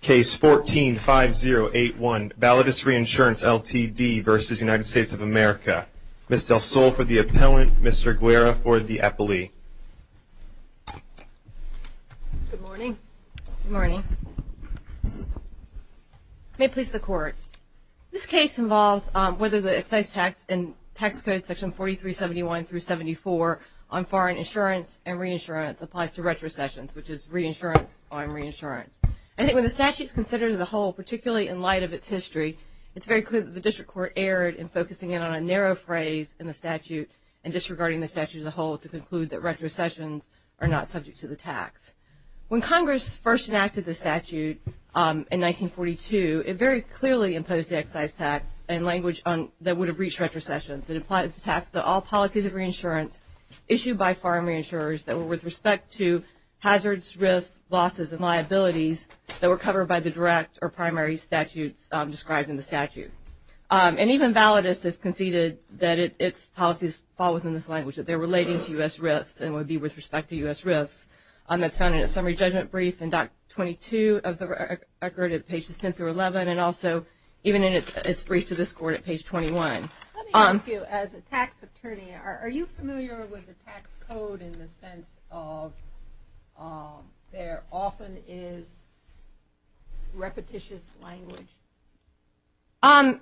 Case 14-5081, Validus Reinsurance, Ltd. v. United States of America. Ms. Del Sol for the appellant, Mr. Guerra for the appellee. Good morning. Good morning. May it please the Court. This case involves whether the excise tax in Tax Code Section 4371-74 on foreign insurance and reinsurance applies to retrocessions, which is reinsurance on reinsurance. I think when the statute is considered as a whole, particularly in light of its history, it's very clear that the district court erred in focusing in on a narrow phrase in the statute and disregarding the statute as a whole to conclude that retrocessions are not subject to the tax. When Congress first enacted the statute in 1942, it very clearly imposed the excise tax in language that would have reached retrocessions. It implied the tax that all policies of reinsurance issued by foreign reinsurers that were with respect to hazards, risks, losses, and liabilities that were covered by the direct or primary statutes described in the statute. And even Validus has conceded that its policies fall within this language, that they're relating to U.S. risks and would be with respect to U.S. risks. That's found in a summary judgment brief in Doc 22 of the record at pages 10 through 11, and also even in its brief to this Court at page 21. Let me ask you, as a tax attorney, are you familiar with the tax code in the sense of there often is repetitious language?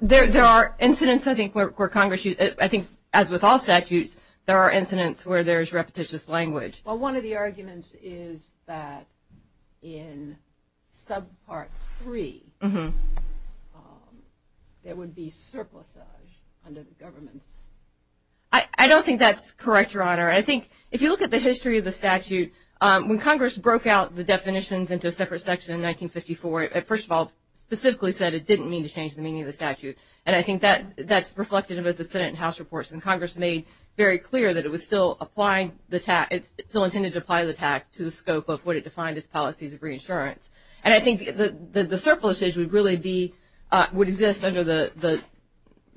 There are incidents, I think, where Congress used it. I think, as with all statutes, there are incidents where there is repetitious language. Well, one of the arguments is that in subpart 3 there would be surplusage under the government. I don't think that's correct, Your Honor. I think if you look at the history of the statute, when Congress broke out the definitions into a separate section in 1954, it first of all specifically said it didn't mean to change the meaning of the statute. And I think that's reflected in both the Senate and House reports. And Congress made very clear that it was still intended to apply the tax to the scope of what it defined as policies of reinsurance. And I think the surplusage would exist under the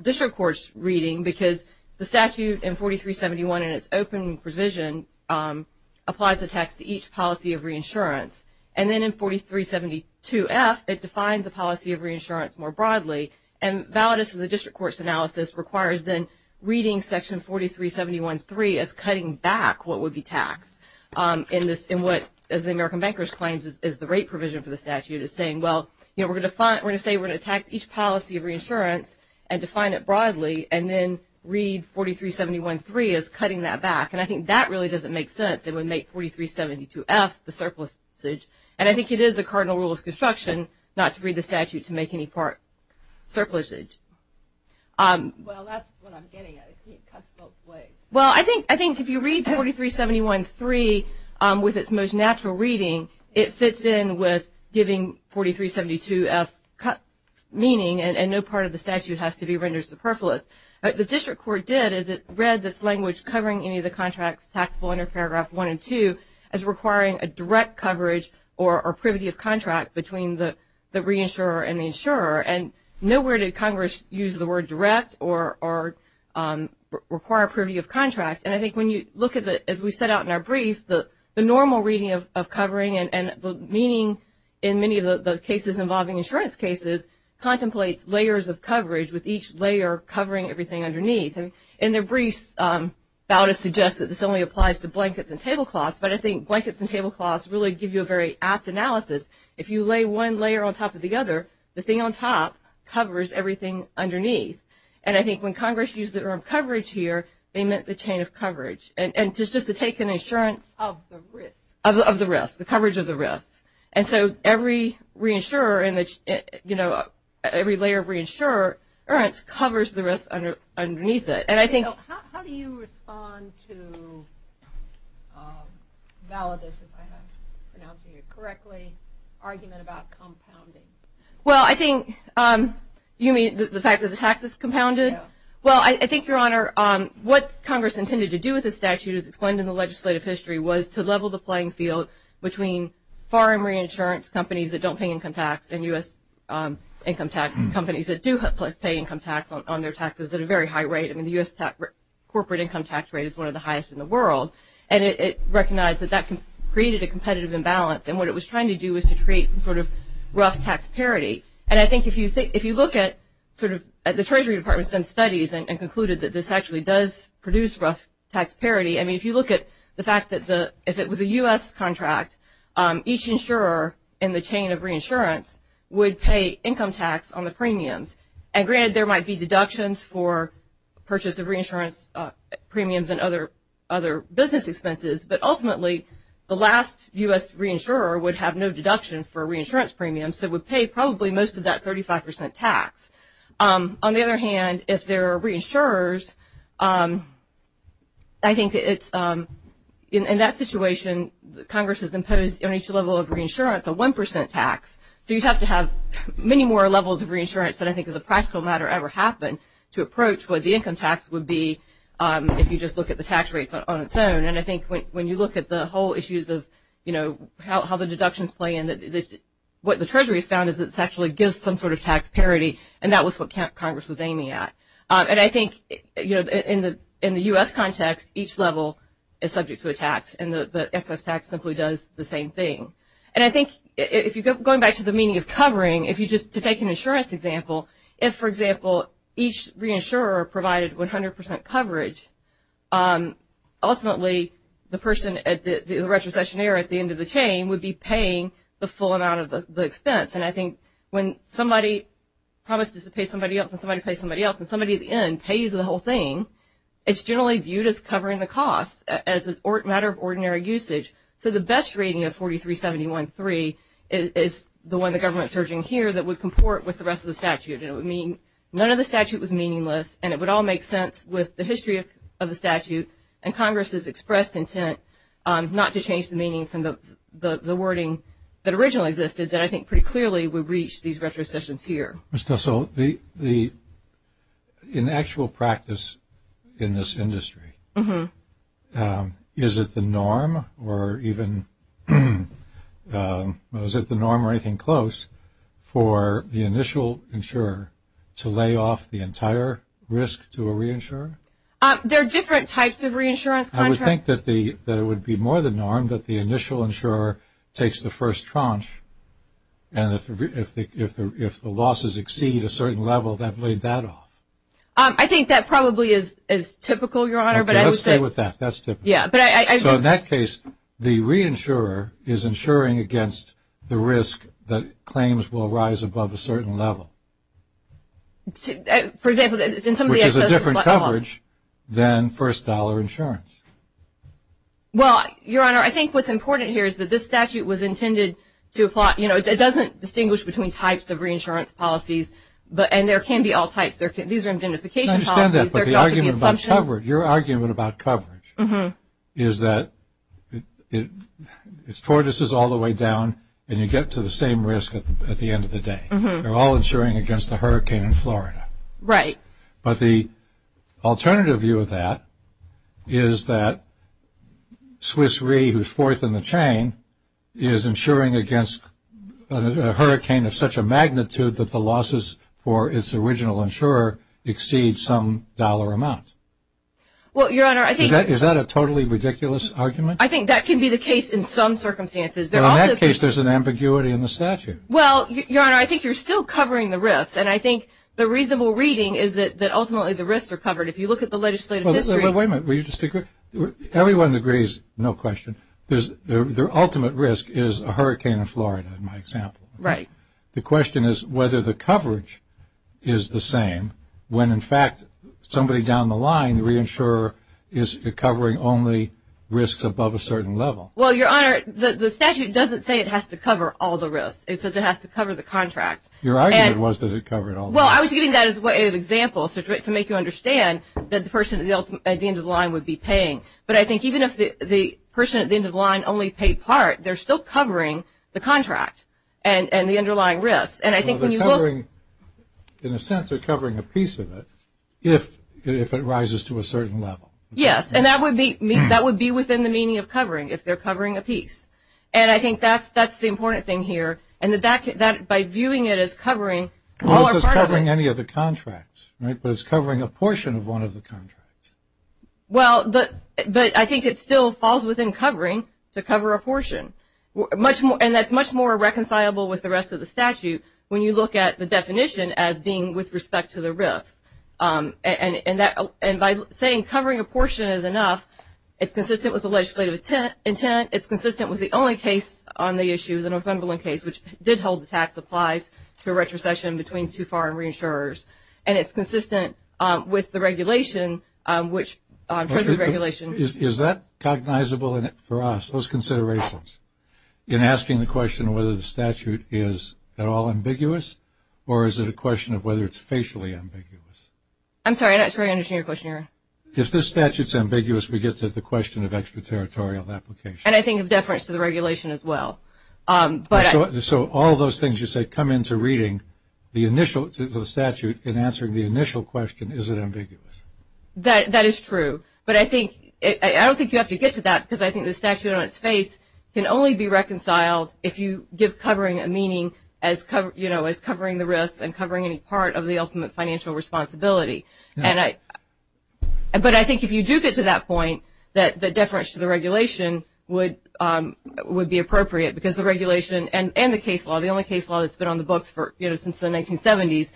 district court's reading because the statute in 4371 in its open provision applies the tax to each policy of reinsurance. And then in 4372F, it defines the policy of reinsurance more broadly. And validus of the district court's analysis requires then reading Section 4371.3 as cutting back what would be taxed in what, as the American Bankers Claims, is the rate provision for the statute. It's saying, well, we're going to say we're going to tax each policy of reinsurance and define it broadly and then read 4371.3 as cutting that back. And I think that really doesn't make sense. It would make 4372F the surplusage. And I think it is a cardinal rule of construction not to read the statute to make any part surplusage. Well, that's what I'm getting at. It cuts both ways. Well, I think if you read 4371.3 with its most natural reading, it fits in with giving 4372F meaning and no part of the statute has to be rendered superfluous. What the district court did is it read this language covering any of the contracts taxable under Paragraph 1 and 2 as requiring a direct coverage or privity of contract between the reinsurer and the insurer. And nowhere did Congress use the word direct or require privity of contract. And I think when you look at it, as we set out in our brief, the normal reading of covering and the meaning in many of the cases involving insurance cases contemplates layers of coverage with each layer covering everything underneath. In their brief, Bautis suggests that this only applies to blankets and tablecloths, but I think blankets and tablecloths really give you a very apt analysis. If you lay one layer on top of the other, the thing on top covers everything underneath. And I think when Congress used the term coverage here, they meant the chain of coverage. And just to take an insurance of the risk, the coverage of the risk. And so every layer of reinsurer covers the risk underneath it. How do you respond to Validus, if I'm pronouncing it correctly, argument about compounding? Well, I think you mean the fact that the tax is compounded? Well, I think, Your Honor, what Congress intended to do with the statute as explained in the legislative history was to level the playing field between foreign reinsurance companies that don't pay income tax and U.S. income tax companies that do pay income tax on their taxes at a very high rate. I mean, the U.S. corporate income tax rate is one of the highest in the world. And it recognized that that created a competitive imbalance. And what it was trying to do was to create some sort of rough tax parity. And I think if you look at sort of the Treasury Department's studies and concluded that this actually does produce rough tax parity. I mean, if you look at the fact that if it was a U.S. contract, each insurer in the chain of reinsurance would pay income tax on the premiums. And granted, there might be deductions for purchase of reinsurance premiums and other business expenses, but ultimately, the last U.S. reinsurer would have no deduction for reinsurance premiums and would pay probably most of that 35 percent tax. On the other hand, if there are reinsurers, I think in that situation, Congress has imposed on each level of reinsurance a one percent tax. So you'd have to have many more levels of reinsurance than I think as a practical matter ever happened to approach what the income tax would be if you just look at the tax rates on its own. And I think when you look at the whole issues of, you know, how the deductions play in, what the Treasury has found is that this actually gives some sort of tax parity, and that was what Congress was aiming at. And I think, you know, in the U.S. context, each level is subject to a tax, and the excess tax simply does the same thing. And I think if you go back to the meaning of covering, if you just take an insurance example, if, for example, each reinsurer provided 100 percent coverage, ultimately, the person, the retrocessionaire at the end of the chain would be paying the full amount of the expense. And I think when somebody promises to pay somebody else and somebody pays somebody else and somebody at the end pays the whole thing, it's generally viewed as covering the cost, as a matter of ordinary usage. So the best rating of 4371.3 is the one the government is urging here that would comport with the rest of the statute, and it would mean none of the statute was meaningless, and it would all make sense with the history of the statute, and Congress's expressed intent not to change the meaning from the wording that originally existed, that I think pretty clearly would reach these retrocessions here. Ms. Tussall, in actual practice in this industry, is it the norm or even – is it the norm or anything close for the initial insurer to lay off the entire risk to a reinsurer? There are different types of reinsurance contracts. I would think that it would be more the norm that the initial insurer takes the first tranche, and if the losses exceed a certain level, they've laid that off. I think that probably is typical, Your Honor. Okay, let's stay with that. That's typical. Yeah, but I just – So in that case, the reinsurer is insuring against the risk that claims will rise above a certain level. For example, in some of the – Which is a different coverage than first-dollar insurance. Well, Your Honor, I think what's important here is that this statute was intended to – you know, it doesn't distinguish between types of reinsurance policies, and there can be all types. These are identification policies. I understand that, but the argument about coverage – is that it's tortoises all the way down, and you get to the same risk at the end of the day. They're all insuring against the hurricane in Florida. Right. But the alternative view of that is that Swiss Re, who's fourth in the chain, is insuring against a hurricane of such a magnitude that the losses for its original insurer exceed some dollar amount. Well, Your Honor, I think – Is that a totally ridiculous argument? I think that can be the case in some circumstances. In that case, there's an ambiguity in the statute. Well, Your Honor, I think you're still covering the risk, and I think the reasonable reading is that ultimately the risks are covered. If you look at the legislative history – Wait a minute. Everyone agrees, no question, their ultimate risk is a hurricane in Florida, in my example. Right. The question is whether the coverage is the same when, in fact, somebody down the line, the reinsurer, is covering only risks above a certain level. Well, Your Honor, the statute doesn't say it has to cover all the risks. It says it has to cover the contracts. Your argument was that it covered all the risks. Well, I was giving that as an example to make you understand that the person at the end of the line would be paying. But I think even if the person at the end of the line only paid part, they're still covering the contract and the underlying risks. In a sense, they're covering a piece of it if it rises to a certain level. Yes, and that would be within the meaning of covering if they're covering a piece. And I think that's the important thing here. And by viewing it as covering all or part of it – Well, it's just covering any of the contracts, right? But it's covering a portion of one of the contracts. Well, but I think it still falls within covering to cover a portion. And that's much more reconcilable with the rest of the statute when you look at the definition as being with respect to the risks. And by saying covering a portion is enough, it's consistent with the legislative intent. It's consistent with the only case on the issue, the Northumberland case, which did hold the tax applies to a retrocession between two foreign reinsurers. And it's consistent with the regulation, which Treasury regulation – Is that cognizable for us, those considerations, in asking the question whether the statute is at all ambiguous or is it a question of whether it's facially ambiguous? I'm sorry, I'm not sure I understand your question. If the statute's ambiguous, we get to the question of extraterritorial application. And I think of deference to the regulation as well. So all those things you say come into reading the initial – to the statute in answering the initial question, is it ambiguous? That is true. But I don't think you have to get to that because I think the statute on its face can only be reconciled if you give covering a meaning as covering the risks and covering any part of the ultimate financial responsibility. But I think if you do get to that point, that deference to the regulation would be appropriate because the regulation and the case law, the only case law that's been on the books since the 1970s,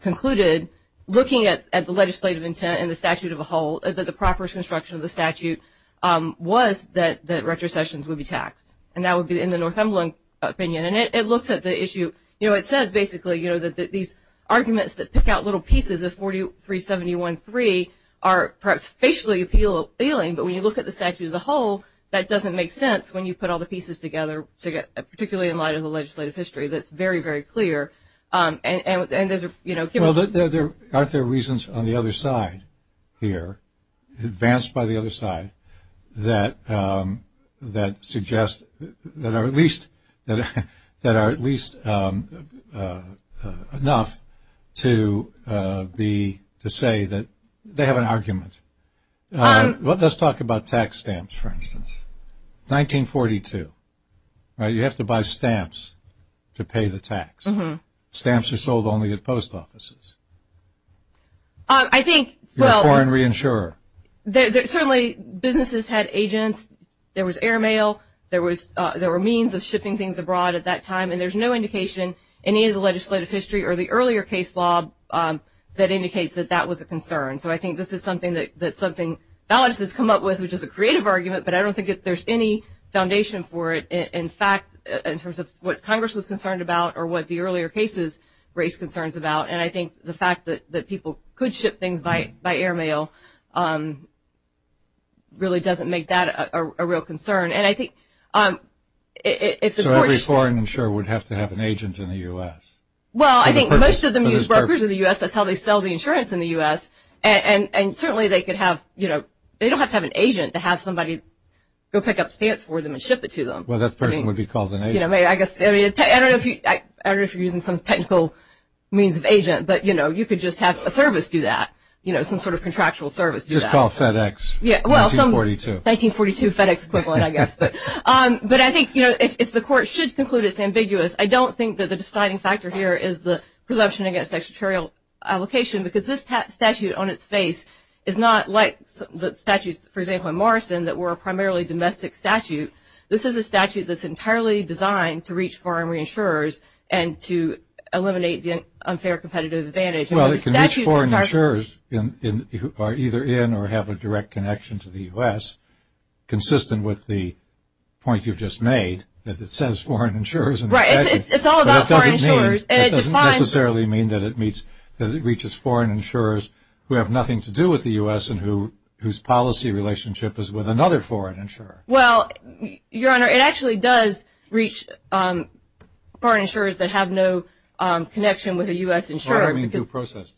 concluded looking at the legislative intent and the statute of a whole, that the proper construction of the statute was that retrocessions would be taxed. And that would be in the Northumberland opinion. And it looks at the issue – you know, it says basically, you know, that these arguments that pick out little pieces of 4371-3 are perhaps facially appealing, but when you look at the statute as a whole, that doesn't make sense when you put all the pieces together, particularly in light of the legislative history. That's very, very clear. And there's, you know – Well, aren't there reasons on the other side here, advanced by the other side, that suggest – that are at least – that are at least enough to be – to say that they have an argument? Let's talk about tax stamps, for instance. 1942, right? You have to buy stamps to pay the tax. Stamps are sold only at post offices. I think – You're a foreign reinsurer. Certainly businesses had agents. There was air mail. There were means of shipping things abroad at that time. And there's no indication in either the legislative history or the earlier case law that indicates that that was a concern. So I think this is something that something – now it's just come up with, which is a creative argument, but I don't think there's any foundation for it. In fact, in terms of what Congress was concerned about or what the earlier cases raised concerns about, and I think the fact that people could ship things by air mail really doesn't make that a real concern. And I think if the courts – So every foreign insurer would have to have an agent in the U.S. Well, I think most of them use brokers in the U.S. That's how they sell the insurance in the U.S. And certainly they could have – they don't have to have an agent to have somebody go pick up stamps for them and ship it to them. Well, that person would be called an agent. I guess – I don't know if you're using some technical means of agent, but you could just have a service do that, some sort of contractual service do that. Just call FedEx. Well, some – 1942. 1942 FedEx equivalent, I guess. But I think if the court should conclude it's ambiguous, I don't think that the deciding factor here is the presumption against extraterritorial allocation because this statute on its face is not like the statutes, for example, in Morrison, that were primarily domestic statute. This is a statute that's entirely designed to reach foreign reinsurers and to eliminate the unfair competitive advantage. Well, it can reach foreign insurers who are either in or have a direct connection to the U.S., which is consistent with the point you've just made, that it says foreign insurers. Right. It's all about foreign insurers. It doesn't necessarily mean that it meets – that it reaches foreign insurers who have nothing to do with the U.S. and whose policy relationship is with another foreign insurer. Well, Your Honor, it actually does reach foreign insurers that have no connection with a U.S. insurer. What do you mean due process?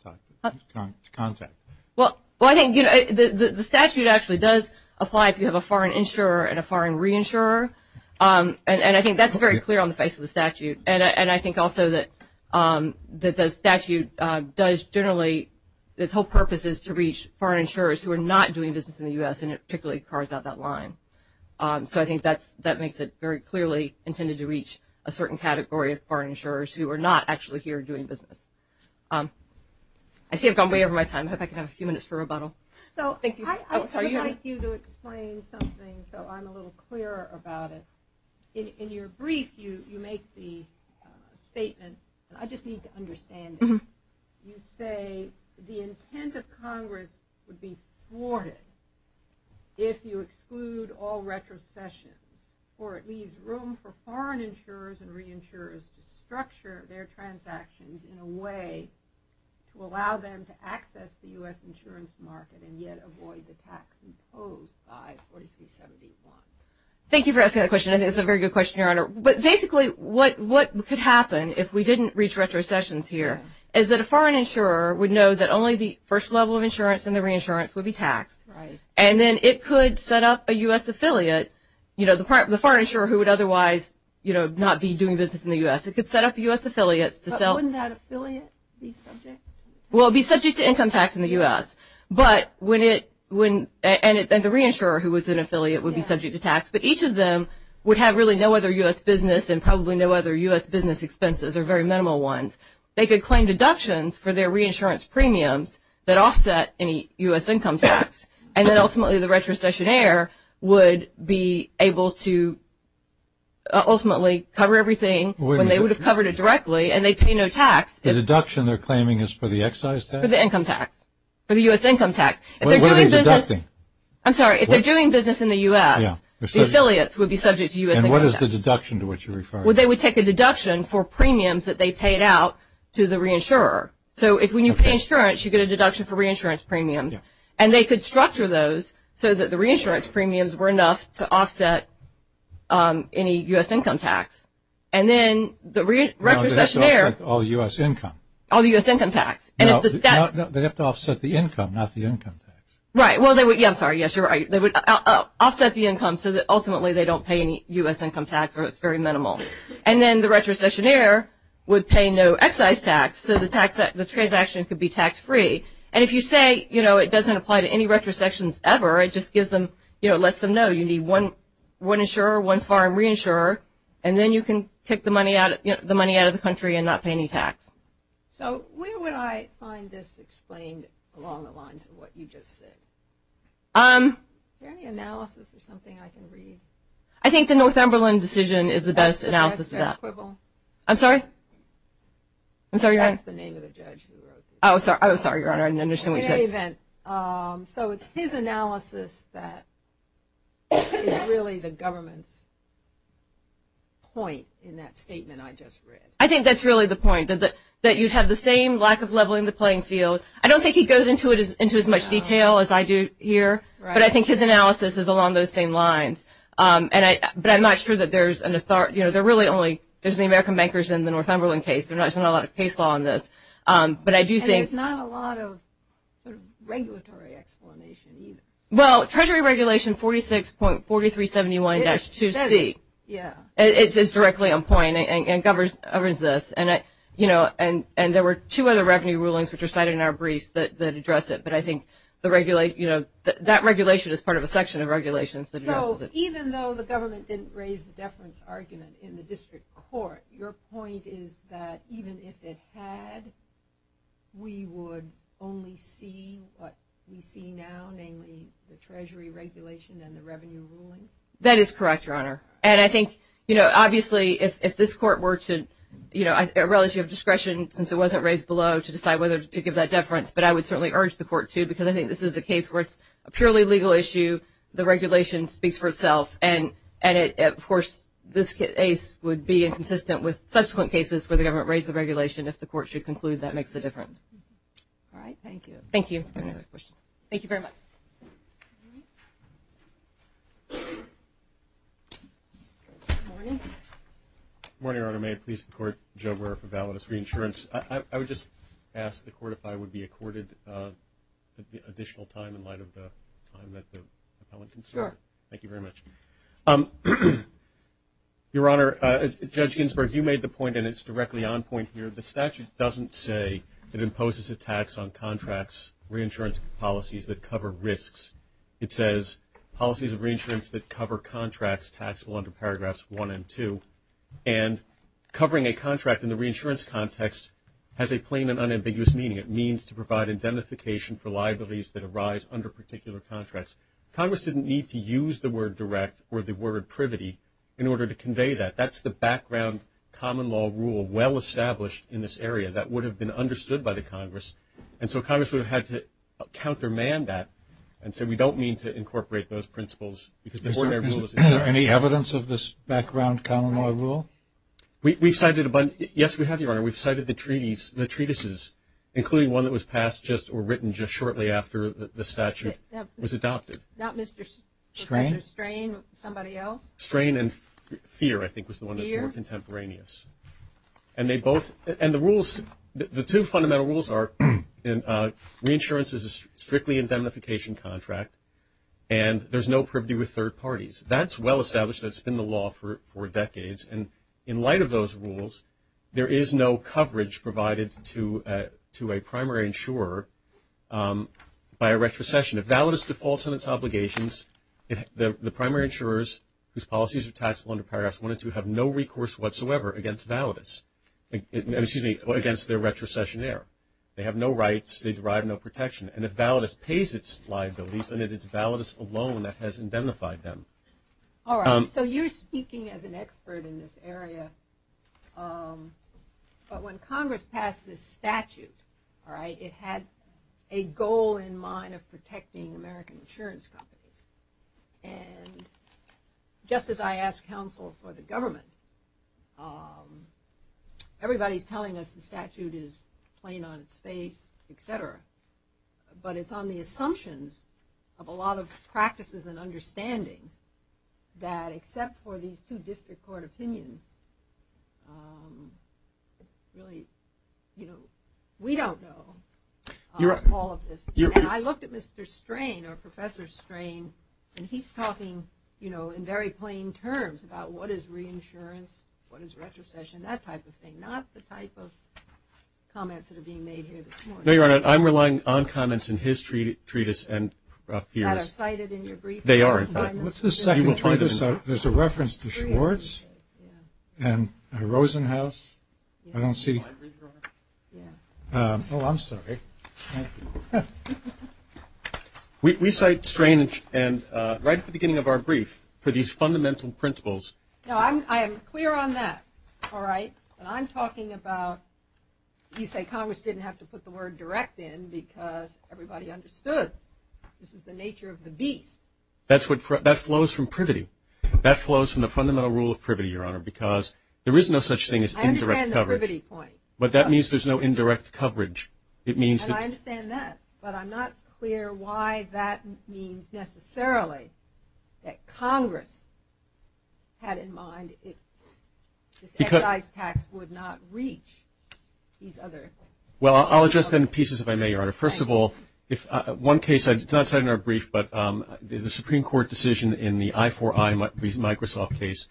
Contact. Well, I think the statute actually does apply if you have a foreign insurer and a foreign reinsurer, and I think that's very clear on the face of the statute, and I think also that the statute does generally – its whole purpose is to reach foreign insurers who are not doing business in the U.S., and it particularly carves out that line. So I think that makes it very clearly intended to reach a certain category of foreign insurers who are not actually here doing business. I see I've gone way over my time. I hope I can have a few minutes for rebuttal. So I would like you to explain something so I'm a little clearer about it. In your brief, you make the statement, and I just need to understand it, you say the intent of Congress would be thwarted if you exclude all retrocessions or it leaves room for foreign insurers and reinsurers to structure their transactions in a way to allow them to access the U.S. insurance market and yet avoid the tax imposed by 4371. Thank you for asking that question. I think it's a very good question, Your Honor. But basically what could happen if we didn't reach retrocessions here is that a foreign insurer would know that only the first level of insurance and the reinsurance would be taxed, and then it could set up a U.S. affiliate, you know, the foreign insurer who would otherwise, you know, not be doing business in the U.S. It could set up U.S. affiliates to sell. But wouldn't that affiliate be subject? Well, it would be subject to income tax in the U.S., and the reinsurer who was an affiliate would be subject to tax. But each of them would have really no other U.S. business and probably no other U.S. business expenses or very minimal ones. They could claim deductions for their reinsurance premiums that offset any U.S. income tax, and then ultimately the retrocessionaire would be able to ultimately cover everything when they would have covered it directly and they'd pay no tax. The deduction they're claiming is for the excise tax? For the income tax, for the U.S. income tax. What are they deducting? I'm sorry. If they're doing business in the U.S., the affiliates would be subject to U.S. income tax. And what is the deduction to which you're referring? Well, they would take a deduction for premiums that they paid out to the reinsurer. So when you pay insurance, you get a deduction for reinsurance premiums. And they could structure those so that the reinsurance premiums were enough to offset any U.S. income tax. And then the retrocessionaire. No, they have to offset all U.S. income. All U.S. income tax. No, they have to offset the income, not the income tax. Right. Well, I'm sorry, yes, you're right. They would offset the income so that ultimately they don't pay any U.S. income tax or it's very minimal. And then the retrocessionaire would pay no excise tax, so the transaction could be tax-free. And if you say, you know, it doesn't apply to any retrosections ever, it just gives them, you know, lets them know. You need one insurer, one foreign reinsurer, and then you can kick the money out of the country and not pay any tax. So where would I find this explained along the lines of what you just said? Is there any analysis or something I can read? I think the Northumberland decision is the best analysis of that. I'm sorry? I'm sorry, Your Honor. That's the name of the judge who wrote this. Oh, I'm sorry, Your Honor, I didn't understand what you said. So it's his analysis that is really the government's point in that statement I just read. I think that's really the point, that you'd have the same lack of leveling the playing field. I don't think he goes into as much detail as I do here, but I think his analysis is along those same lines. But I'm not sure that there's an authority. You know, there really only is the American bankers in the Northumberland case. There's not a lot of case law in this. But I do think. And there's not a lot of regulatory explanation either. Well, Treasury Regulation 46.4371-2C. Yeah. It's directly on point and governs this. And, you know, there were two other revenue rulings which are cited in our briefs that address it. But I think, you know, that regulation is part of a section of regulations that addresses it. So even though the government didn't raise the deference argument in the district court, your point is that even if it had, we would only see what we see now, namely the Treasury Regulation and the revenue rulings? That is correct, Your Honor. And I think, you know, obviously if this court were to, you know, a relative discretion since it wasn't raised below to decide whether to give that deference, but I would certainly urge the court to because I think this is a case where it's a purely legal issue. The regulation speaks for itself. And, of course, this case would be inconsistent with subsequent cases where the government raised the regulation. If the court should conclude, that makes the difference. All right. Thank you. Thank you. Any other questions? Thank you very much. Good morning. Good morning, Your Honor. May it please the Court, Joe Brewer for Validus Reinsurance. I would just ask the Court if I would be accorded additional time in light of the time that the appellant can serve. Sure. Thank you very much. Your Honor, Judge Ginsburg, you made the point and it's directly on point here. The statute doesn't say it imposes a tax on contracts, reinsurance policies that cover risks. It says policies of reinsurance that cover contracts taxable under paragraphs one and two. And covering a contract in the reinsurance context has a plain and unambiguous meaning. It means to provide identification for liabilities that arise under particular contracts. Congress didn't need to use the word direct or the word privity in order to convey that. That's the background common law rule well established in this area that would have been understood by the Congress. And so Congress would have had to countermand that and say we don't mean to incorporate those principles. Is there any evidence of this background common law rule? Yes, we have, Your Honor. We've cited the treatises, including one that was passed just or written just shortly after the statute was adopted. Not Mr. Strain, somebody else? Strain and Fear, I think, was the one that's more contemporaneous. And the two fundamental rules are reinsurance is a strictly indemnification contract and there's no privity with third parties. That's well established. That's been the law for decades. And in light of those rules, there is no coverage provided to a primary insurer by a retrocession. And if validus defaults on its obligations, the primary insurers, whose policies are taxable under paragraphs 1 and 2, have no recourse whatsoever against validus, excuse me, against their retrocessionaire. They have no rights. They derive no protection. And if validus pays its liabilities, then it is validus alone that has indemnified them. All right. So you're speaking as an expert in this area. But when Congress passed this statute, all right, it had a goal in mind of protecting American insurance companies. And just as I ask counsel for the government, everybody's telling us the statute is plain on its face, et cetera. But it's on the assumptions of a lot of practices and understandings that, except for these two district court opinions, really, you know, we don't know all of this. And I looked at Mr. Strain or Professor Strain, and he's talking, you know, in very plain terms about what is reinsurance, what is retrocession, that type of thing, not the type of comments that are being made here this morning. No, Your Honor, I'm relying on comments in his treatise and a few others. That are cited in your brief? They are, in fact. All right. What's the second treatise? There's a reference to Schwartz and Rosenhaus. I don't see. Oh, I'm sorry. We cite Strain right at the beginning of our brief for these fundamental principles. No, I am clear on that. All right. But I'm talking about you say Congress didn't have to put the word direct in because everybody understood. This is the nature of the beast. That flows from privity. That flows from the fundamental rule of privity, Your Honor, because there is no such thing as indirect coverage. I understand the privity point. But that means there's no indirect coverage. And I understand that, but I'm not clear why that means necessarily that Congress had in mind this excise tax would not reach these other. Well, I'll address that in pieces if I may, Your Honor. First of all, one case, it's not cited in our brief, but the Supreme Court decision in the I4I Microsoft case,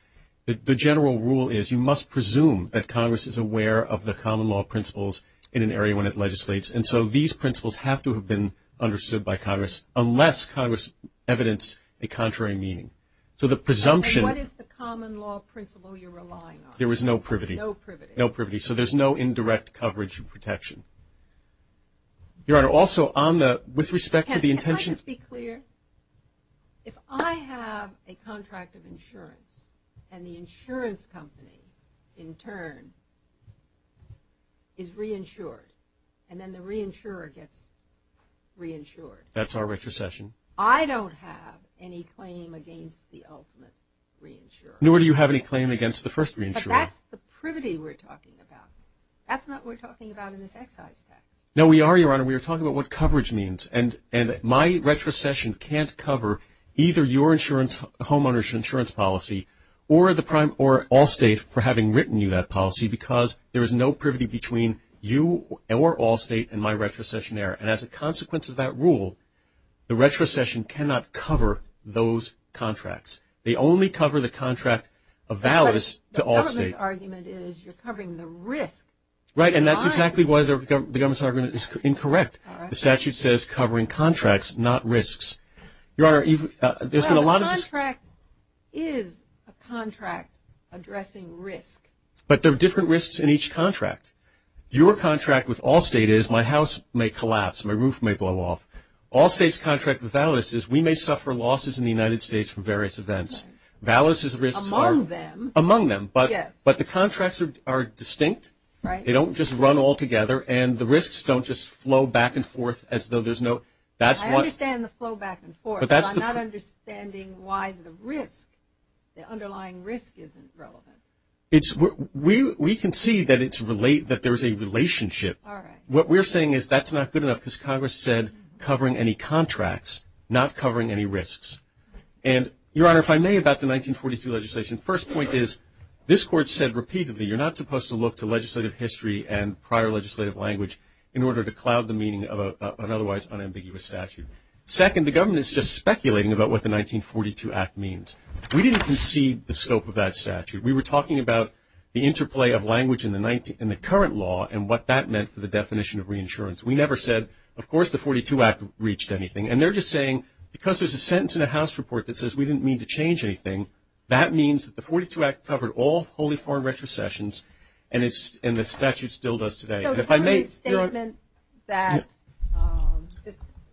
the general rule is you must presume that Congress is aware of the common law principles in an area when it legislates. And so these principles have to have been understood by Congress unless Congress evidenced a contrary meaning. So the presumption. What is the common law principle you're relying on? There is no privity. No privity. No privity. So there's no indirect coverage protection. Your Honor, also on the, with respect to the intention. Can I just be clear? If I have a contract of insurance and the insurance company in turn is reinsured, and then the reinsurer gets reinsured. That's our retrocession. I don't have any claim against the ultimate reinsurer. Nor do you have any claim against the first reinsurer. But that's the privity we're talking about. That's not what we're talking about in this excise tax. No, we are, Your Honor. We are talking about what coverage means. And my retrocession can't cover either your insurance, homeowners insurance policy, or the prime, or Allstate for having written you that policy because there is no privity between you or Allstate and my retrocession there. And as a consequence of that rule, the retrocession cannot cover those contracts. They only cover the contract of Valis to Allstate. The government's argument is you're covering the risk. Right, and that's exactly why the government's argument is incorrect. The statute says covering contracts, not risks. Your Honor, there's been a lot of this. Well, the contract is a contract addressing risk. But there are different risks in each contract. Your contract with Allstate is my house may collapse, my roof may blow off. Allstate's contract with Valis is we may suffer losses in the United States from various events. Valis's risks are. Among them. Among them. Yes. But the contracts are distinct. Right. They don't just run all together, and the risks don't just flow back and forth as though there's no. I understand the flow back and forth, but I'm not understanding why the risk, the underlying risk isn't relevant. We can see that there's a relationship. All right. What we're saying is that's not good enough because Congress said covering any contracts, not covering any risks. And, Your Honor, if I may, about the 1942 legislation. First point is this Court said repeatedly you're not supposed to look to legislative history and prior legislative language in order to cloud the meaning of an otherwise unambiguous statute. Second, the government is just speculating about what the 1942 Act means. We didn't concede the scope of that statute. We were talking about the interplay of language in the current law and what that meant for the definition of reinsurance. We never said, of course, the 1942 Act reached anything. And they're just saying because there's a sentence in the House report that says we didn't mean to change anything, that means that the 1942 Act covered all wholly foreign retrocessions, and the statute still does today. And if I may, Your Honor. So the statement that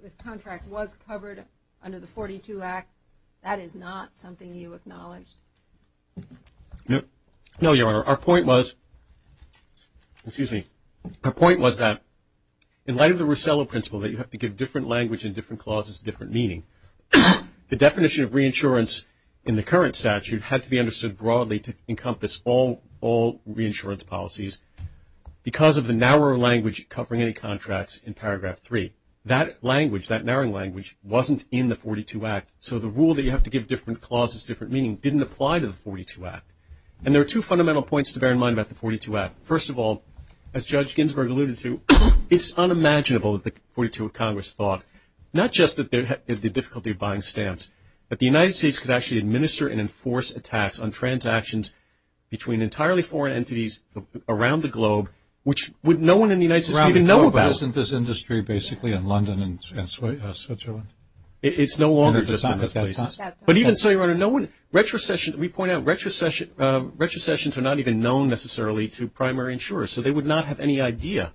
this contract was covered under the 1942 Act, that is not something you acknowledged? No, Your Honor. Our point was, excuse me, our point was that in light of the Rossello Principle, that you have to give different language and different clauses different meaning, the definition of reinsurance in the current statute had to be understood broadly to encompass all reinsurance policies because of the narrower language covering any contracts in Paragraph 3. That language, that narrowing language, wasn't in the 1942 Act, so the rule that you have to give different clauses different meaning didn't apply to the 1942 Act. And there are two fundamental points to bear in mind about the 1942 Act. First of all, as Judge Ginsburg alluded to, it's unimaginable that the 42 of Congress thought, not just that they had the difficulty of buying stamps, but the United States could actually administer and enforce a tax on transactions between entirely foreign entities around the globe, which no one in the United States would even know about. But isn't this industry basically in London and Switzerland? It's no longer just in those places. But even so, Your Honor, no one, retrocessions, we point out, retrocessions are not even known necessarily to primary insurers, so they would not have any idea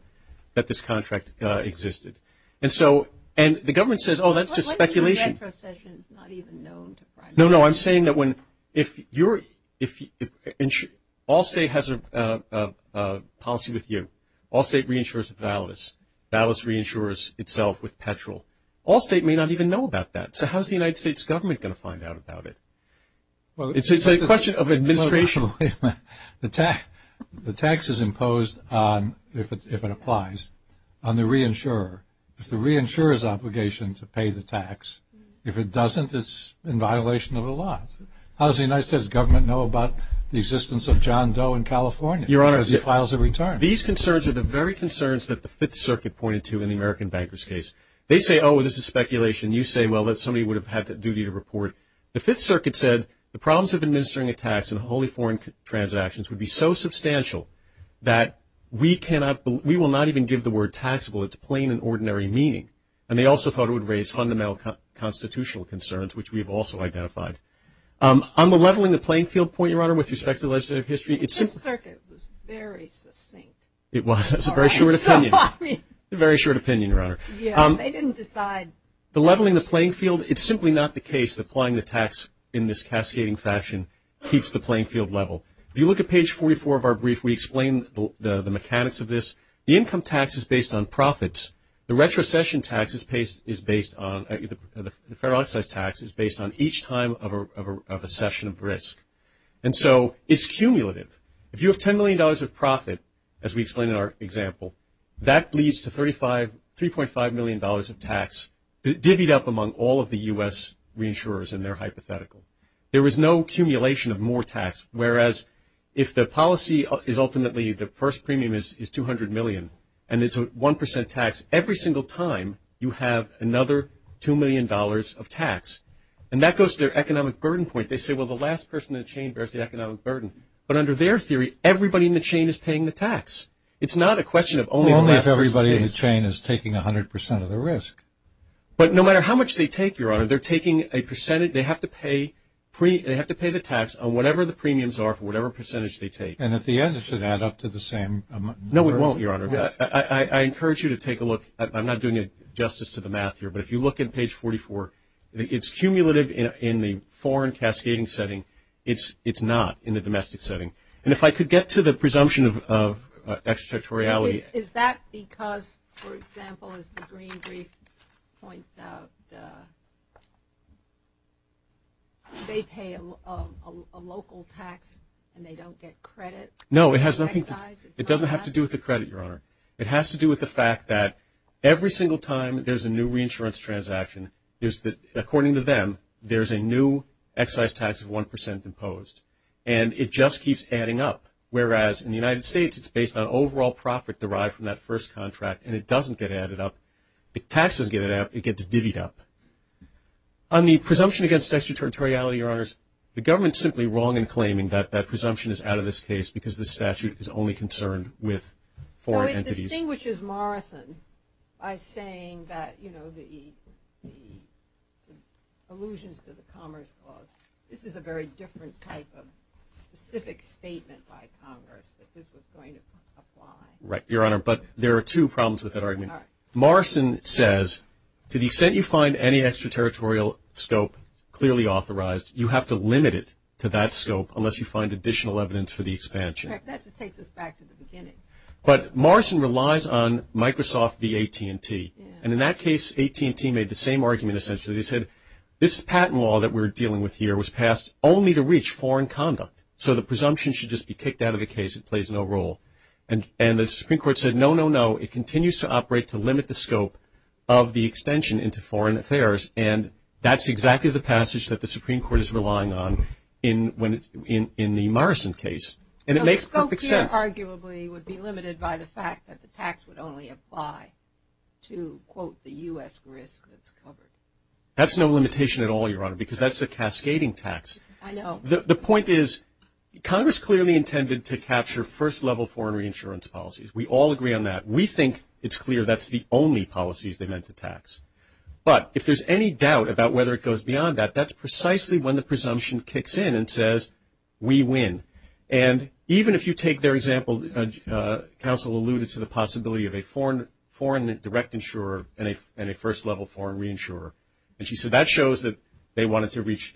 that this contract existed. And so, and the government says, oh, that's just speculation. What if the retrocession is not even known to primary insurers? No, no, I'm saying that when, if you're, if all state has a policy with you, all state reinsures Valis. Valis reinsures itself with petrol. All state may not even know about that. So how's the United States government going to find out about it? Well, it's a question of administration. The tax is imposed on, if it applies, on the reinsurer. It's the reinsurer's obligation to pay the tax. If it doesn't, it's in violation of the law. How does the United States government know about the existence of John Doe in California? Your Honor. Because he files a return. These concerns are the very concerns that the Fifth Circuit pointed to in the American bankers case. They say, oh, this is speculation. You say, well, that somebody would have had that duty to report. The Fifth Circuit said the problems of administering a tax in wholly foreign transactions would be so substantial that we cannot, we will not even give the word taxable its plain and ordinary meaning. And they also thought it would raise fundamental constitutional concerns, which we have also identified. On the leveling the playing field point, Your Honor, with respect to legislative history. The Fifth Circuit was very succinct. It was. That's a very short opinion. A very short opinion, Your Honor. They didn't decide. The leveling the playing field, it's simply not the case that applying the tax in this cascading fashion keeps the playing field level. If you look at page 44 of our brief, we explain the mechanics of this. The income tax is based on profits. The retrocession tax is based on, the federal excise tax is based on each time of a session of risk. And so it's cumulative. If you have $10 million of profit, as we explain in our example, that leads to $3.5 million of tax, divvied up among all of the U.S. reinsurers in their hypothetical. There is no accumulation of more tax, whereas if the policy is ultimately the first premium is $200 million, and it's a 1% tax, every single time you have another $2 million of tax. And that goes to their economic burden point. They say, well, the last person in the chain bears the economic burden. But under their theory, everybody in the chain is paying the tax. It's not a question of only the last person. Only if everybody in the chain is taking 100% of the risk. But no matter how much they take, Your Honor, they're taking a percentage. They have to pay the tax on whatever the premiums are for whatever percentage they take. And at the end, it should add up to the same. No, it won't, Your Honor. I encourage you to take a look. I'm not doing justice to the math here, but if you look at page 44, it's cumulative in the foreign cascading setting. It's not in the domestic setting. And if I could get to the presumption of extraterritoriality. Is that because, for example, as the Green Brief points out, they pay a local tax and they don't get credit? No, it has nothing to do with it. It has to do with the fact that every single time there's a new reinsurance transaction, according to them, there's a new excise tax of 1% imposed. And it just keeps adding up. Whereas in the United States, it's based on overall profit derived from that first contract, and it doesn't get added up. The tax doesn't get added up. It gets divvied up. On the presumption against extraterritoriality, Your Honors, the government's simply wrong in claiming that that presumption is out of this case because the statute is only concerned with foreign entities. So it distinguishes Morrison by saying that, you know, the allusions to the Commerce Clause. This is a very different type of specific statement by Congress that this was going to apply. Right, Your Honor. But there are two problems with that argument. Morrison says, to the extent you find any extraterritorial scope clearly authorized, you have to limit it to that scope unless you find additional evidence for the expansion. That just takes us back to the beginning. But Morrison relies on Microsoft v. AT&T. And in that case, AT&T made the same argument, essentially. They said, this patent law that we're dealing with here was passed only to reach foreign conduct, so the presumption should just be kicked out of the case. It plays no role. And the Supreme Court said, no, no, no. It continues to operate to limit the scope of the extension into foreign affairs, and that's exactly the passage that the Supreme Court is relying on in the Morrison case. And it makes perfect sense. The scope here arguably would be limited by the fact that the tax would only apply to, quote, the U.S. risk that's covered. That's no limitation at all, Your Honor, because that's a cascading tax. I know. The point is, Congress clearly intended to capture first-level foreign reinsurance policies. We all agree on that. We think it's clear that's the only policies they meant to tax. But if there's any doubt about whether it goes beyond that, that's precisely when the presumption kicks in and says, we win. And even if you take their example, counsel alluded to the possibility of a foreign direct insurer and a first-level foreign reinsurer. And she said that shows that they wanted to reach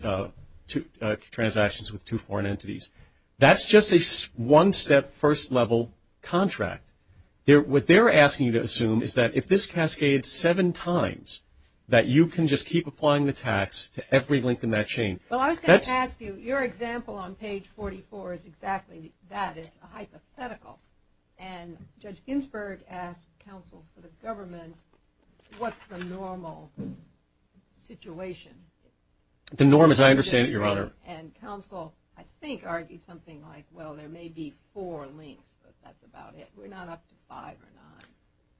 transactions with two foreign entities. That's just a one-step first-level contract. What they're asking you to assume is that if this cascades seven times, that you can just keep applying the tax to every link in that chain. Well, I was going to ask you, your example on page 44 is exactly that. It's a hypothetical. And Judge Ginsburg asked counsel for the government, what's the normal situation? The norm, as I understand it, Your Honor. And counsel, I think, argued something like, well, there may be four links, but that's about it. We're not up to five or nine.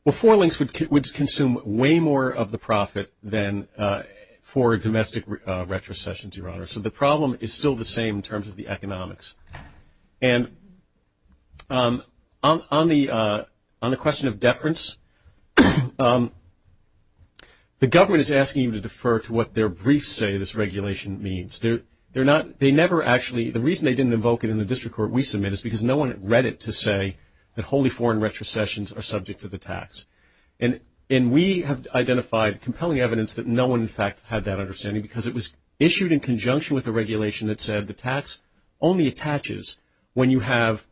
Well, four links would consume way more of the profit than four domestic retrocessions, Your Honor. So the problem is still the same in terms of the economics. And on the question of deference, the government is asking you to defer to what their briefs say this regulation means. They never actually, the reason they didn't invoke it in the district court we submit is because no one read it to say that wholly foreign retrocessions are subject to the tax. And we have identified compelling evidence that no one, in fact, had that understanding, because it was issued in conjunction with a regulation that said the tax only attaches when you have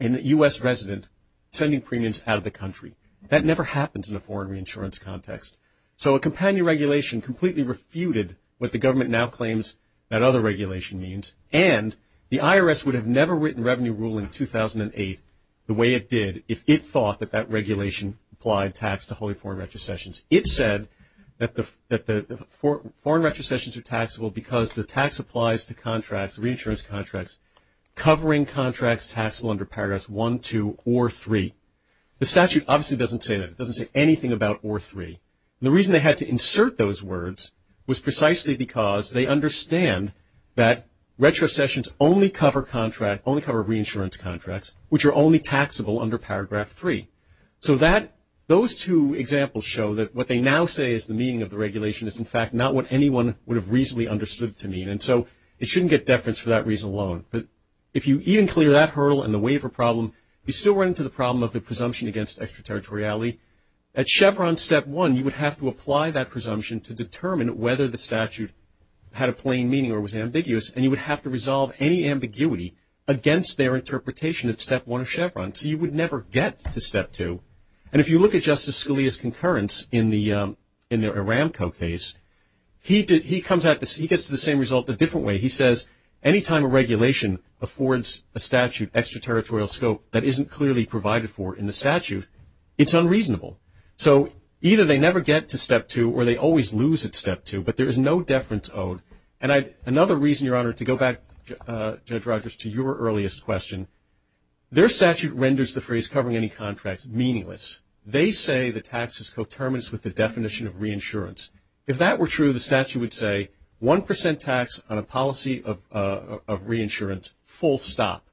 a U.S. resident sending premiums out of the country. That never happens in a foreign reinsurance context. So a companion regulation completely refuted what the government now claims that other regulation means. And the IRS would have never written revenue rule in 2008 the way it did if it thought that that regulation applied tax to wholly foreign retrocessions. It said that the foreign retrocessions are taxable because the tax applies to contracts, reinsurance contracts, covering contracts taxable under Paragraphs 1, 2, or 3. The statute obviously doesn't say that. It doesn't say anything about or 3. The reason they had to insert those words was precisely because they understand that retrocessions only cover contract, only cover reinsurance contracts, which are only taxable under Paragraph 3. So that, those two examples show that what they now say is the meaning of the regulation is, in fact, not what anyone would have reasonably understood it to mean. And so it shouldn't get deference for that reason alone. But if you even clear that hurdle and the waiver problem, you still run into the problem of the presumption against extraterritoriality. At Chevron Step 1, you would have to apply that presumption to determine whether the statute had a plain meaning or was ambiguous, and you would have to resolve any ambiguity against their interpretation at Step 1 of Chevron. So you would never get to Step 2. And if you look at Justice Scalia's concurrence in the Aramco case, he comes out, he gets to the same result a different way. He says any time a regulation affords a statute extraterritorial scope that isn't clearly provided for in the statute, it's unreasonable. So either they never get to Step 2 or they always lose at Step 2, but there is no deference owed. And another reason, Your Honor, to go back, Judge Rogers, to your earliest question, their statute renders the phrase covering any contract meaningless. They say the tax is coterminous with the definition of reinsurance. If that were true, the statute would say 1% tax on a policy of reinsurance, full stop.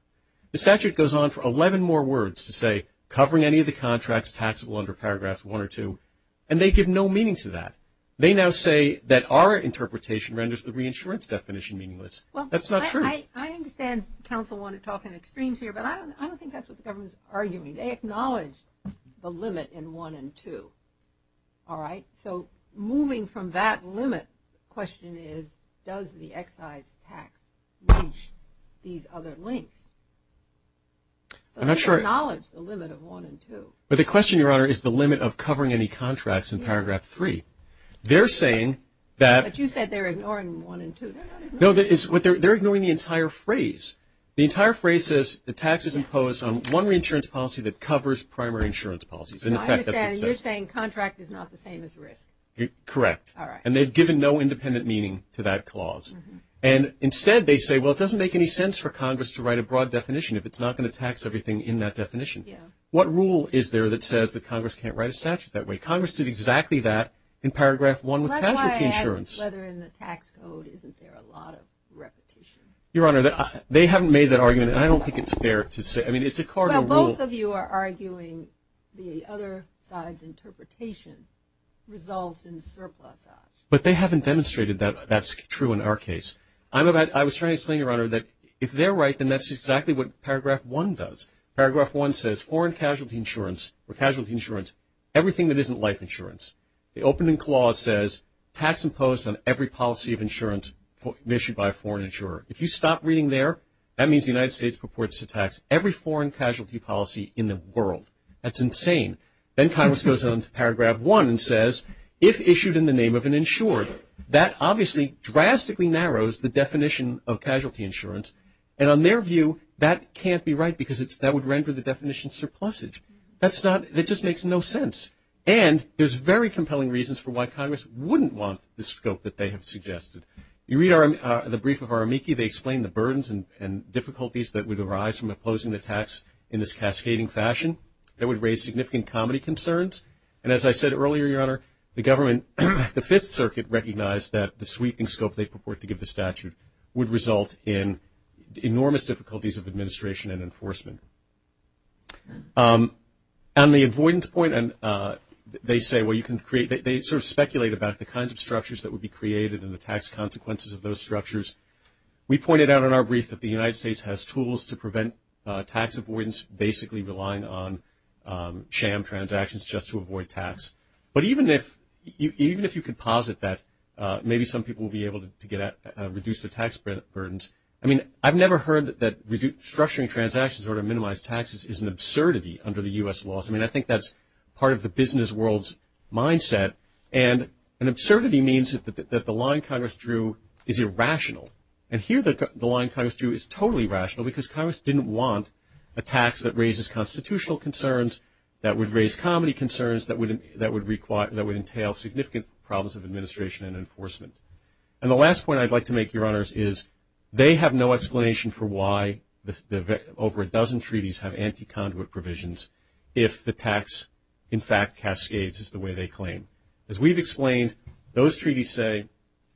The statute goes on for 11 more words to say covering any of the contracts taxable under Paragraphs 1 or 2, and they give no meaning to that. They now say that our interpretation renders the reinsurance definition meaningless. That's not true. I understand counsel want to talk in extremes here, but I don't think that's what the government is arguing. They acknowledge the limit in 1 and 2. All right. So moving from that limit, the question is, does the excise tax reach these other links? So they acknowledge the limit of 1 and 2. But the question, Your Honor, is the limit of covering any contracts in Paragraph 3. They're saying that – But you said they're ignoring 1 and 2. No, they're ignoring the entire phrase. The entire phrase says the tax is imposed on one reinsurance policy that covers primary insurance policies. And, in fact, that's what it says. No, I understand. You're saying contract is not the same as risk. Correct. All right. And they've given no independent meaning to that clause. And, instead, they say, well, it doesn't make any sense for Congress to write a broad definition if it's not going to tax everything in that definition. Yeah. What rule is there that says that Congress can't write a statute that way? Congress did exactly that in Paragraph 1 with casualty insurance. That's why I asked whether in the tax code isn't there a lot of repetition. Your Honor, they haven't made that argument, and I don't think it's fair to say – I mean, it's a cardinal rule. Both of you are arguing the other side's interpretation results in surplus. But they haven't demonstrated that that's true in our case. I was trying to explain, Your Honor, that if they're right, then that's exactly what Paragraph 1 does. Paragraph 1 says foreign casualty insurance or casualty insurance, everything that isn't life insurance. The opening clause says tax imposed on every policy of insurance issued by a foreign insurer. If you stop reading there, that means the United States purports to tax every foreign casualty policy in the world. That's insane. Then Congress goes on to Paragraph 1 and says, if issued in the name of an insurer, that obviously drastically narrows the definition of casualty insurance. And on their view, that can't be right because that would render the definition surplusage. That's not – it just makes no sense. And there's very compelling reasons for why Congress wouldn't want the scope that they have suggested. You read the brief of Aramiki. They explain the burdens and difficulties that would arise from imposing the tax in this cascading fashion. It would raise significant comedy concerns. And as I said earlier, Your Honor, the government, the Fifth Circuit, recognized that the sweeping scope they purport to give the statute would result in enormous difficulties of administration and enforcement. On the avoidance point, they say, well, you can create – they sort of speculate about the kinds of structures that would be created and the tax consequences of those structures. We pointed out in our brief that the United States has tools to prevent tax avoidance, basically relying on sham transactions just to avoid tax. But even if you could posit that, maybe some people will be able to reduce their tax burdens. I mean, I've never heard that structuring transactions in order to minimize taxes is an absurdity under the U.S. laws. I mean, I think that's part of the business world's mindset. And an absurdity means that the line Congress drew is irrational. And here the line Congress drew is totally rational because Congress didn't want a tax that raises constitutional concerns, that would raise comedy concerns, that would entail significant problems of administration and enforcement. And the last point I'd like to make, Your Honors, is they have no explanation for why over a dozen treaties have anti-conduit provisions if the tax, in fact, cascades as the way they claim. As we've explained, those treaties say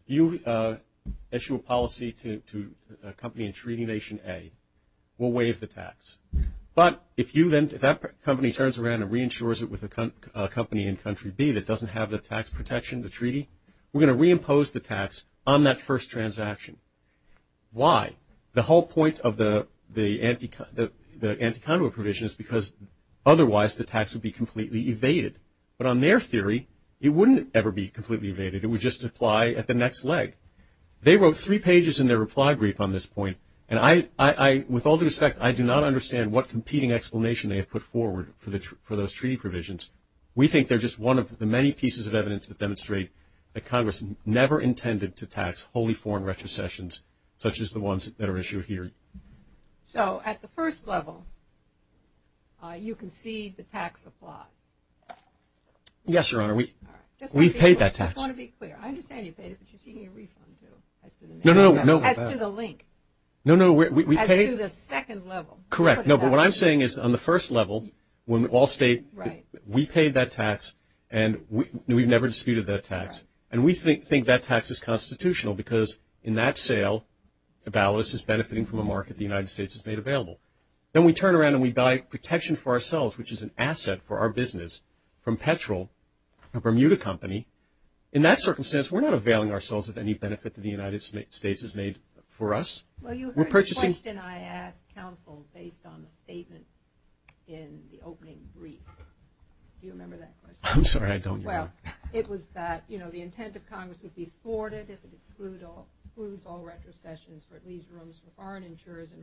you issue a policy to a company in Treaty Nation A, we'll waive the tax. But if that company turns around and reinsures it with a company in Country B that doesn't have the tax protection, the treaty, we're going to reimpose the tax on that first transaction. Why? The whole point of the anti-conduit provision is because otherwise the tax would be completely evaded. But on their theory, it wouldn't ever be completely evaded. It would just apply at the next leg. They wrote three pages in their reply brief on this point. And with all due respect, I do not understand what competing explanation they have put forward for those treaty provisions. We think they're just one of the many pieces of evidence that demonstrate that Congress never intended to tax wholly foreign retrocessions such as the ones that are issued here. So at the first level, you concede the tax applies. Yes, Your Honor. We've paid that tax. I just want to be clear. I understand you paid it, but you're seeking a refund, too, as to the link. No, no. As to the second level. Correct. No, but what I'm saying is on the first level, when all state, we paid that tax, and we've never disputed that tax. And we think that tax is constitutional because in that sale, the ballast is benefiting from a market the United States has made available. Then we turn around and we buy protection for ourselves, which is an asset for our business, from Petrel, a Bermuda company. In that circumstance, we're not availing ourselves of any benefit that the United States has made for us. Well, you heard the question I asked counsel based on the statement in the opening brief. Do you remember that question? I'm sorry, I don't, Your Honor. Well, it was that, you know, the intent of Congress would be afforded if it excludes all retrocessions or at least rooms for foreign insurers and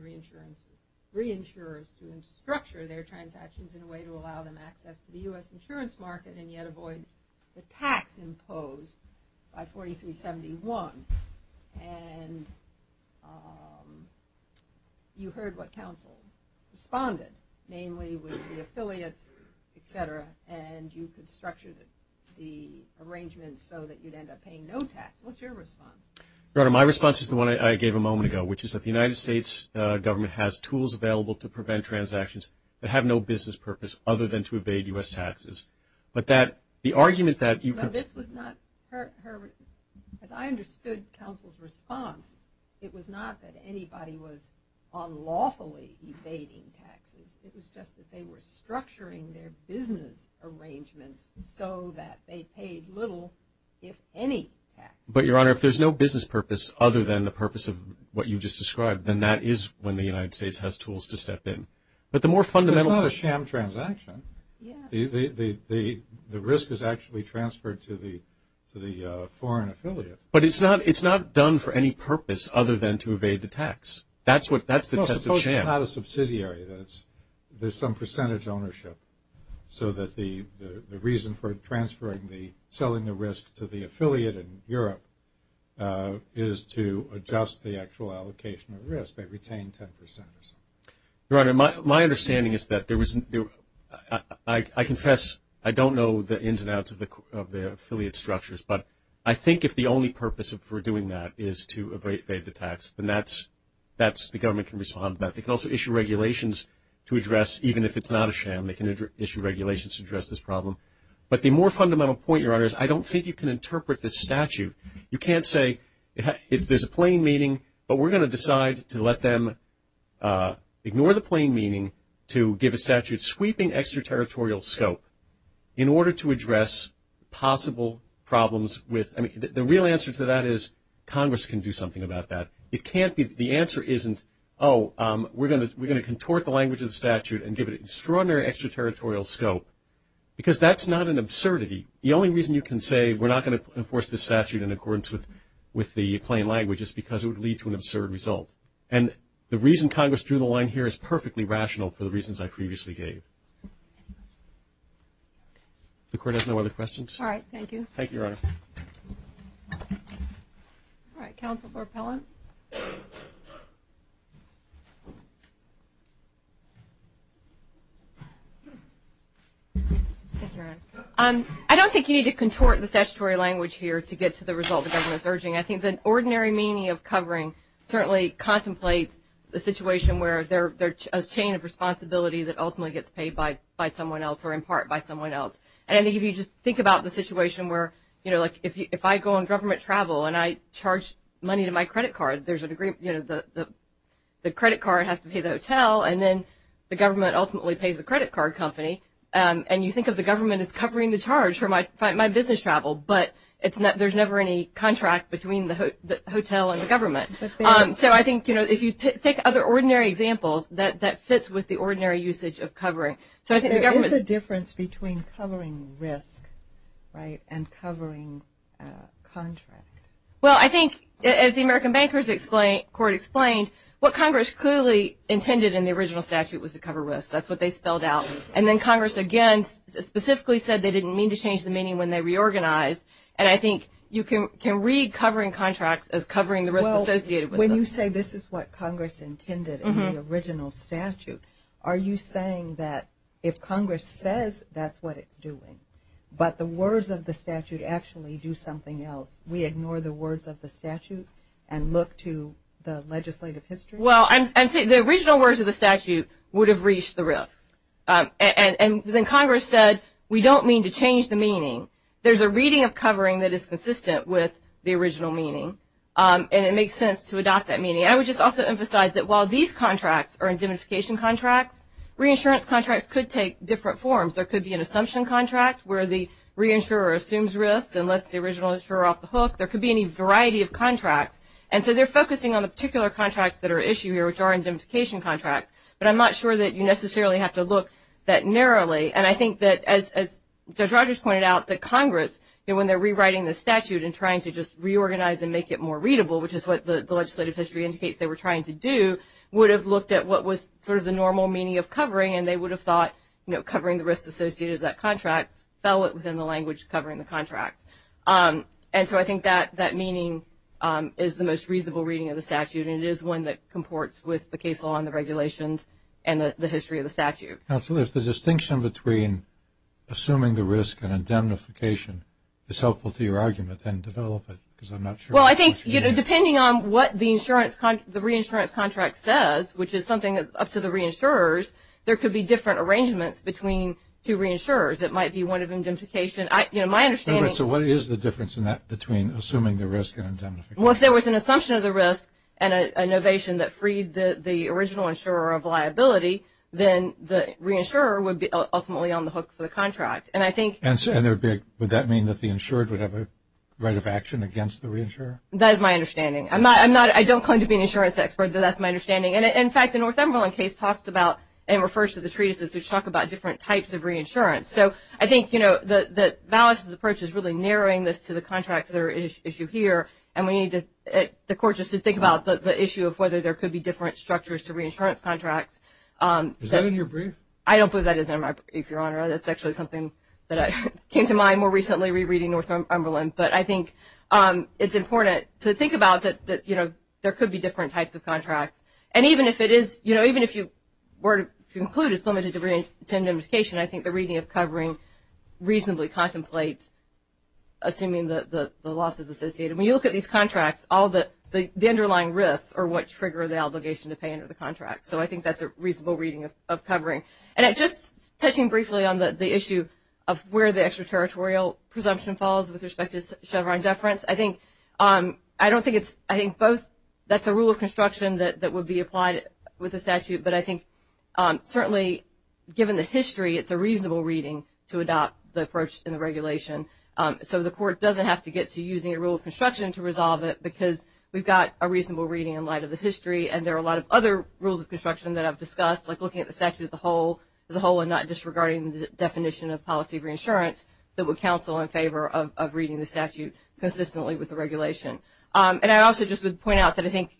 reinsurers to structure their transactions in a way to allow them access to the U.S. insurance market and yet avoid the tax imposed by 4371. And you heard what counsel responded, namely with the affiliates, et cetera, and you could structure the arrangements so that you'd end up paying no tax. What's your response? Your Honor, my response is the one I gave a moment ago, which is that the United States government has tools available to prevent transactions that have no business purpose other than to evade U.S. taxes. But that, the argument that you could. This was not her. As I understood counsel's response, it was not that anybody was unlawfully evading taxes. It was just that they were structuring their business arrangements so that they paid little, if any, tax. But, Your Honor, if there's no business purpose other than the purpose of what you just described, then that is when the United States has tools to step in. But the more fundamental. It's not a sham transaction. The risk is actually transferred to the foreign affiliate. But it's not done for any purpose other than to evade the tax. That's the test of sham. No, suppose it's not a subsidiary. There's some percentage ownership so that the reason for transferring the, selling the risk to the affiliate in Europe is to adjust the actual allocation of risk. They retain 10 percent or so. Your Honor, my understanding is that there was, I confess, I don't know the ins and outs of the affiliate structures, but I think if the only purpose for doing that is to evade the tax, then that's, the government can respond to that. They can also issue regulations to address, even if it's not a sham, they can issue regulations to address this problem. But the more fundamental point, Your Honor, is I don't think you can interpret this statute. You can't say there's a plain meaning, but we're going to decide to let them ignore the plain meaning to give a statute sweeping extraterritorial scope in order to address possible problems with, I mean, the real answer to that is Congress can do something about that. It can't be the answer isn't, oh, we're going to contort the language of the statute and give it extraordinary extraterritorial scope because that's not an absurdity. The only reason you can say we're not going to enforce this statute in accordance with the plain language is because it would lead to an absurd result. And the reason Congress drew the line here is perfectly rational for the reasons I previously gave. If the Court has no other questions. All right. Thank you. Thank you, Your Honor. All right. Counsel for Appellant. Thank you, Your Honor. I don't think you need to contort the statutory language here to get to the result the government is urging. I think the ordinary meaning of covering certainly contemplates the situation where there's a chain of responsibility that ultimately gets paid by someone else or in part by someone else. And I think if you just think about the situation where, you know, like if I go on government travel and I charge money to my credit cards, the credit card has to pay the hotel and then the government ultimately pays the credit card company. And you think of the government as covering the charge for my business travel, but there's never any contract between the hotel and the government. So I think, you know, if you take other ordinary examples, that fits with the ordinary usage of covering. There is a difference between covering risk, right, and covering contract. Well, I think as the American Bankers Court explained, what Congress clearly intended in the original statute was to cover risk. That's what they spelled out. And then Congress, again, specifically said they didn't mean to change the meaning when they reorganized. And I think you can read covering contracts as covering the risk associated with them. Well, when you say this is what Congress intended in the original statute, are you saying that if Congress says that's what it's doing, but the words of the statute actually do something else, we ignore the words of the statute and look to the legislative history? Well, I'm saying the original words of the statute would have reached the risks. And then Congress said we don't mean to change the meaning. There's a reading of covering that is consistent with the original meaning. And it makes sense to adopt that meaning. I would just also emphasize that while these contracts are indemnification contracts, reinsurance contracts could take different forms. There could be an assumption contract where the reinsurer assumes risks and lets the original insurer off the hook. There could be any variety of contracts. And so they're focusing on the particular contracts that are at issue here, which are indemnification contracts. But I'm not sure that you necessarily have to look that narrowly. And I think that, as Judge Rogers pointed out, that Congress, when they're rewriting the statute and trying to just reorganize and make it more readable, which is what the legislative history indicates they were trying to do, would have looked at what was sort of the normal meaning of covering, and they would have thought covering the risks associated with that contract fell within the language covering the contracts. And so I think that that meaning is the most reasonable reading of the statute, and it is one that comports with the case law and the regulations and the history of the statute. Counsel, if the distinction between assuming the risk and indemnification is helpful to your argument, then develop it, because I'm not sure. Well, I think, you know, depending on what the reinsurance contract says, which is something that's up to the reinsurers, there could be different arrangements between two reinsurers. It might be one of indemnification. You know, my understanding is. So what is the difference in that between assuming the risk and indemnification? Well, if there was an assumption of the risk and an innovation that freed the original insurer of liability, then the reinsurer would be ultimately on the hook for the contract. And I think. And would that mean that the insured would have a right of action against the reinsurer? That is my understanding. I don't claim to be an insurance expert, but that's my understanding. And, in fact, the Northumberland case talks about and refers to the treatises which talk about different types of reinsurance. So I think, you know, that Valis' approach is really narrowing this to the contracts that are an issue here, and we need the courts to think about the issue of whether there could be different structures to reinsurance contracts. Is that in your brief? I don't believe that is in my brief, Your Honor. That's actually something that came to mind more recently rereading Northumberland. But I think it's important to think about that, you know, there could be different types of contracts. And even if it is, you know, even if you were to conclude it's limited to reinsurance, I think the reading of covering reasonably contemplates assuming that the loss is associated. When you look at these contracts, all the underlying risks are what trigger the obligation to pay under the contract. So I think that's a reasonable reading of covering. And just touching briefly on the issue of where the extraterritorial presumption falls with respect to Chevron deference, I think both that's a rule of construction that would be applied with the statute, but I think certainly given the history, it's a reasonable reading to adopt the approach in the regulation. So the court doesn't have to get to using a rule of construction to resolve it, because we've got a reasonable reading in light of the history, and there are a lot of other rules of construction that I've discussed, like looking at the statute as a whole and not disregarding the definition of policy of reinsurance, that would counsel in favor of reading the statute consistently with the regulation. And I also just would point out that I think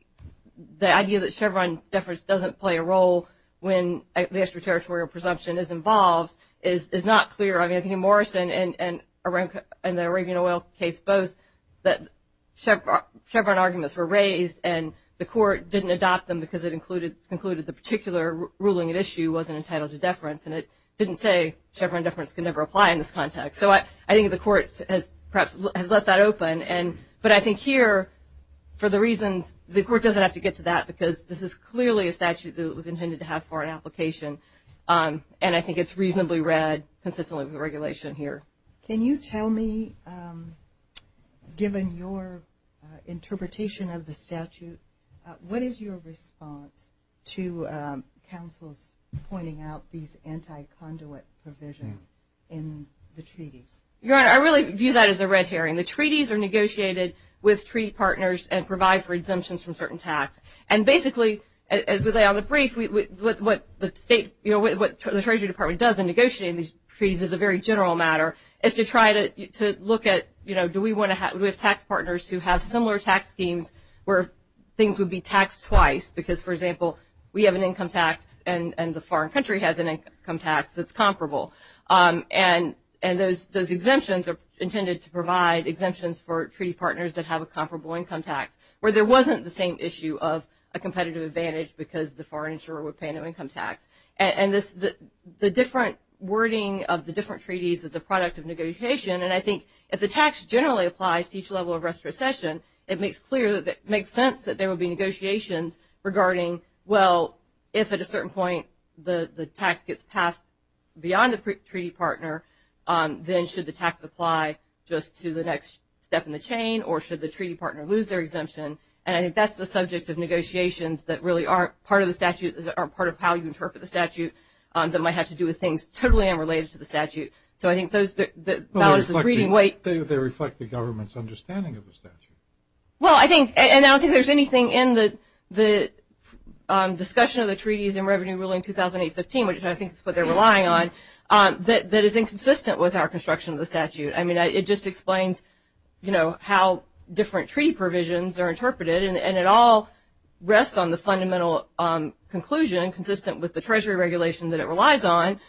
the idea that Chevron deference doesn't play a role when the extraterritorial presumption is involved is not clear. I mean, I think in Morrison and the Arabian oil case both that Chevron arguments were raised and the court didn't adopt them because it concluded the particular ruling at issue wasn't entitled to deference, and it didn't say Chevron deference can never apply in this context. So I think the court has perhaps left that open, but I think here, for the reasons, the court doesn't have to get to that because this is clearly a statute that was intended to have foreign application, and I think it's reasonably read consistently with the regulation here. Can you tell me, given your interpretation of the statute, what is your response to counsel's pointing out these anti-conduit provisions in the treaties? Your Honor, I really view that as a red herring. The treaties are negotiated with treaty partners and provide for exemptions from certain tax. And basically, as we lay out in the brief, what the State, you know, what the Treasury Department does in negotiating these treaties is a very general matter, is to try to look at, you know, do we have tax partners who have similar tax schemes where things would be taxed twice because, for example, we have an income tax and the foreign country has an income tax that's comparable. And those exemptions are intended to provide exemptions for treaty partners that have a comparable income tax where there wasn't the same issue of a competitive advantage because the foreign insurer would pay no income tax. And the different wording of the different treaties is a product of negotiation, and I think if the tax generally applies to each level of restitution, it makes sense that there would be negotiations regarding, well, if at a certain point the tax gets passed beyond the treaty partner, then should the tax apply just to the next step in the chain, or should the treaty partner lose their exemption? And I think that's the subject of negotiations that really aren't part of the statute, that might have to do with things totally unrelated to the statute. So I think those, the balance is reading weight. They reflect the government's understanding of the statute. Well, I think, and I don't think there's anything in the discussion of the treaties in Revenue Ruling 2008-15, which I think is what they're relying on, that is inconsistent with our construction of the statute. I mean, it just explains, you know, how different treaty provisions are interpreted, and it all rests on the fundamental conclusion, consistent with the Treasury regulation that it relies on,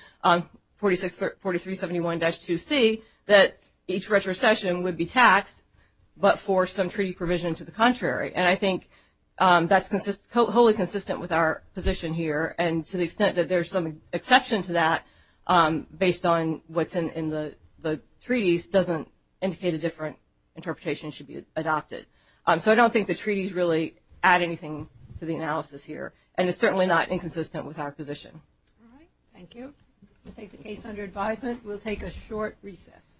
4371-2C, that each retrocession would be taxed but for some treaty provision to the contrary. And I think that's wholly consistent with our position here, and to the extent that there's some exception to that based on what's in the treaties doesn't indicate a different interpretation should be adopted. So I don't think the treaties really add anything to the analysis here, and it's certainly not inconsistent with our position. All right. Thank you. We'll take the case under advisement. We'll take a short recess.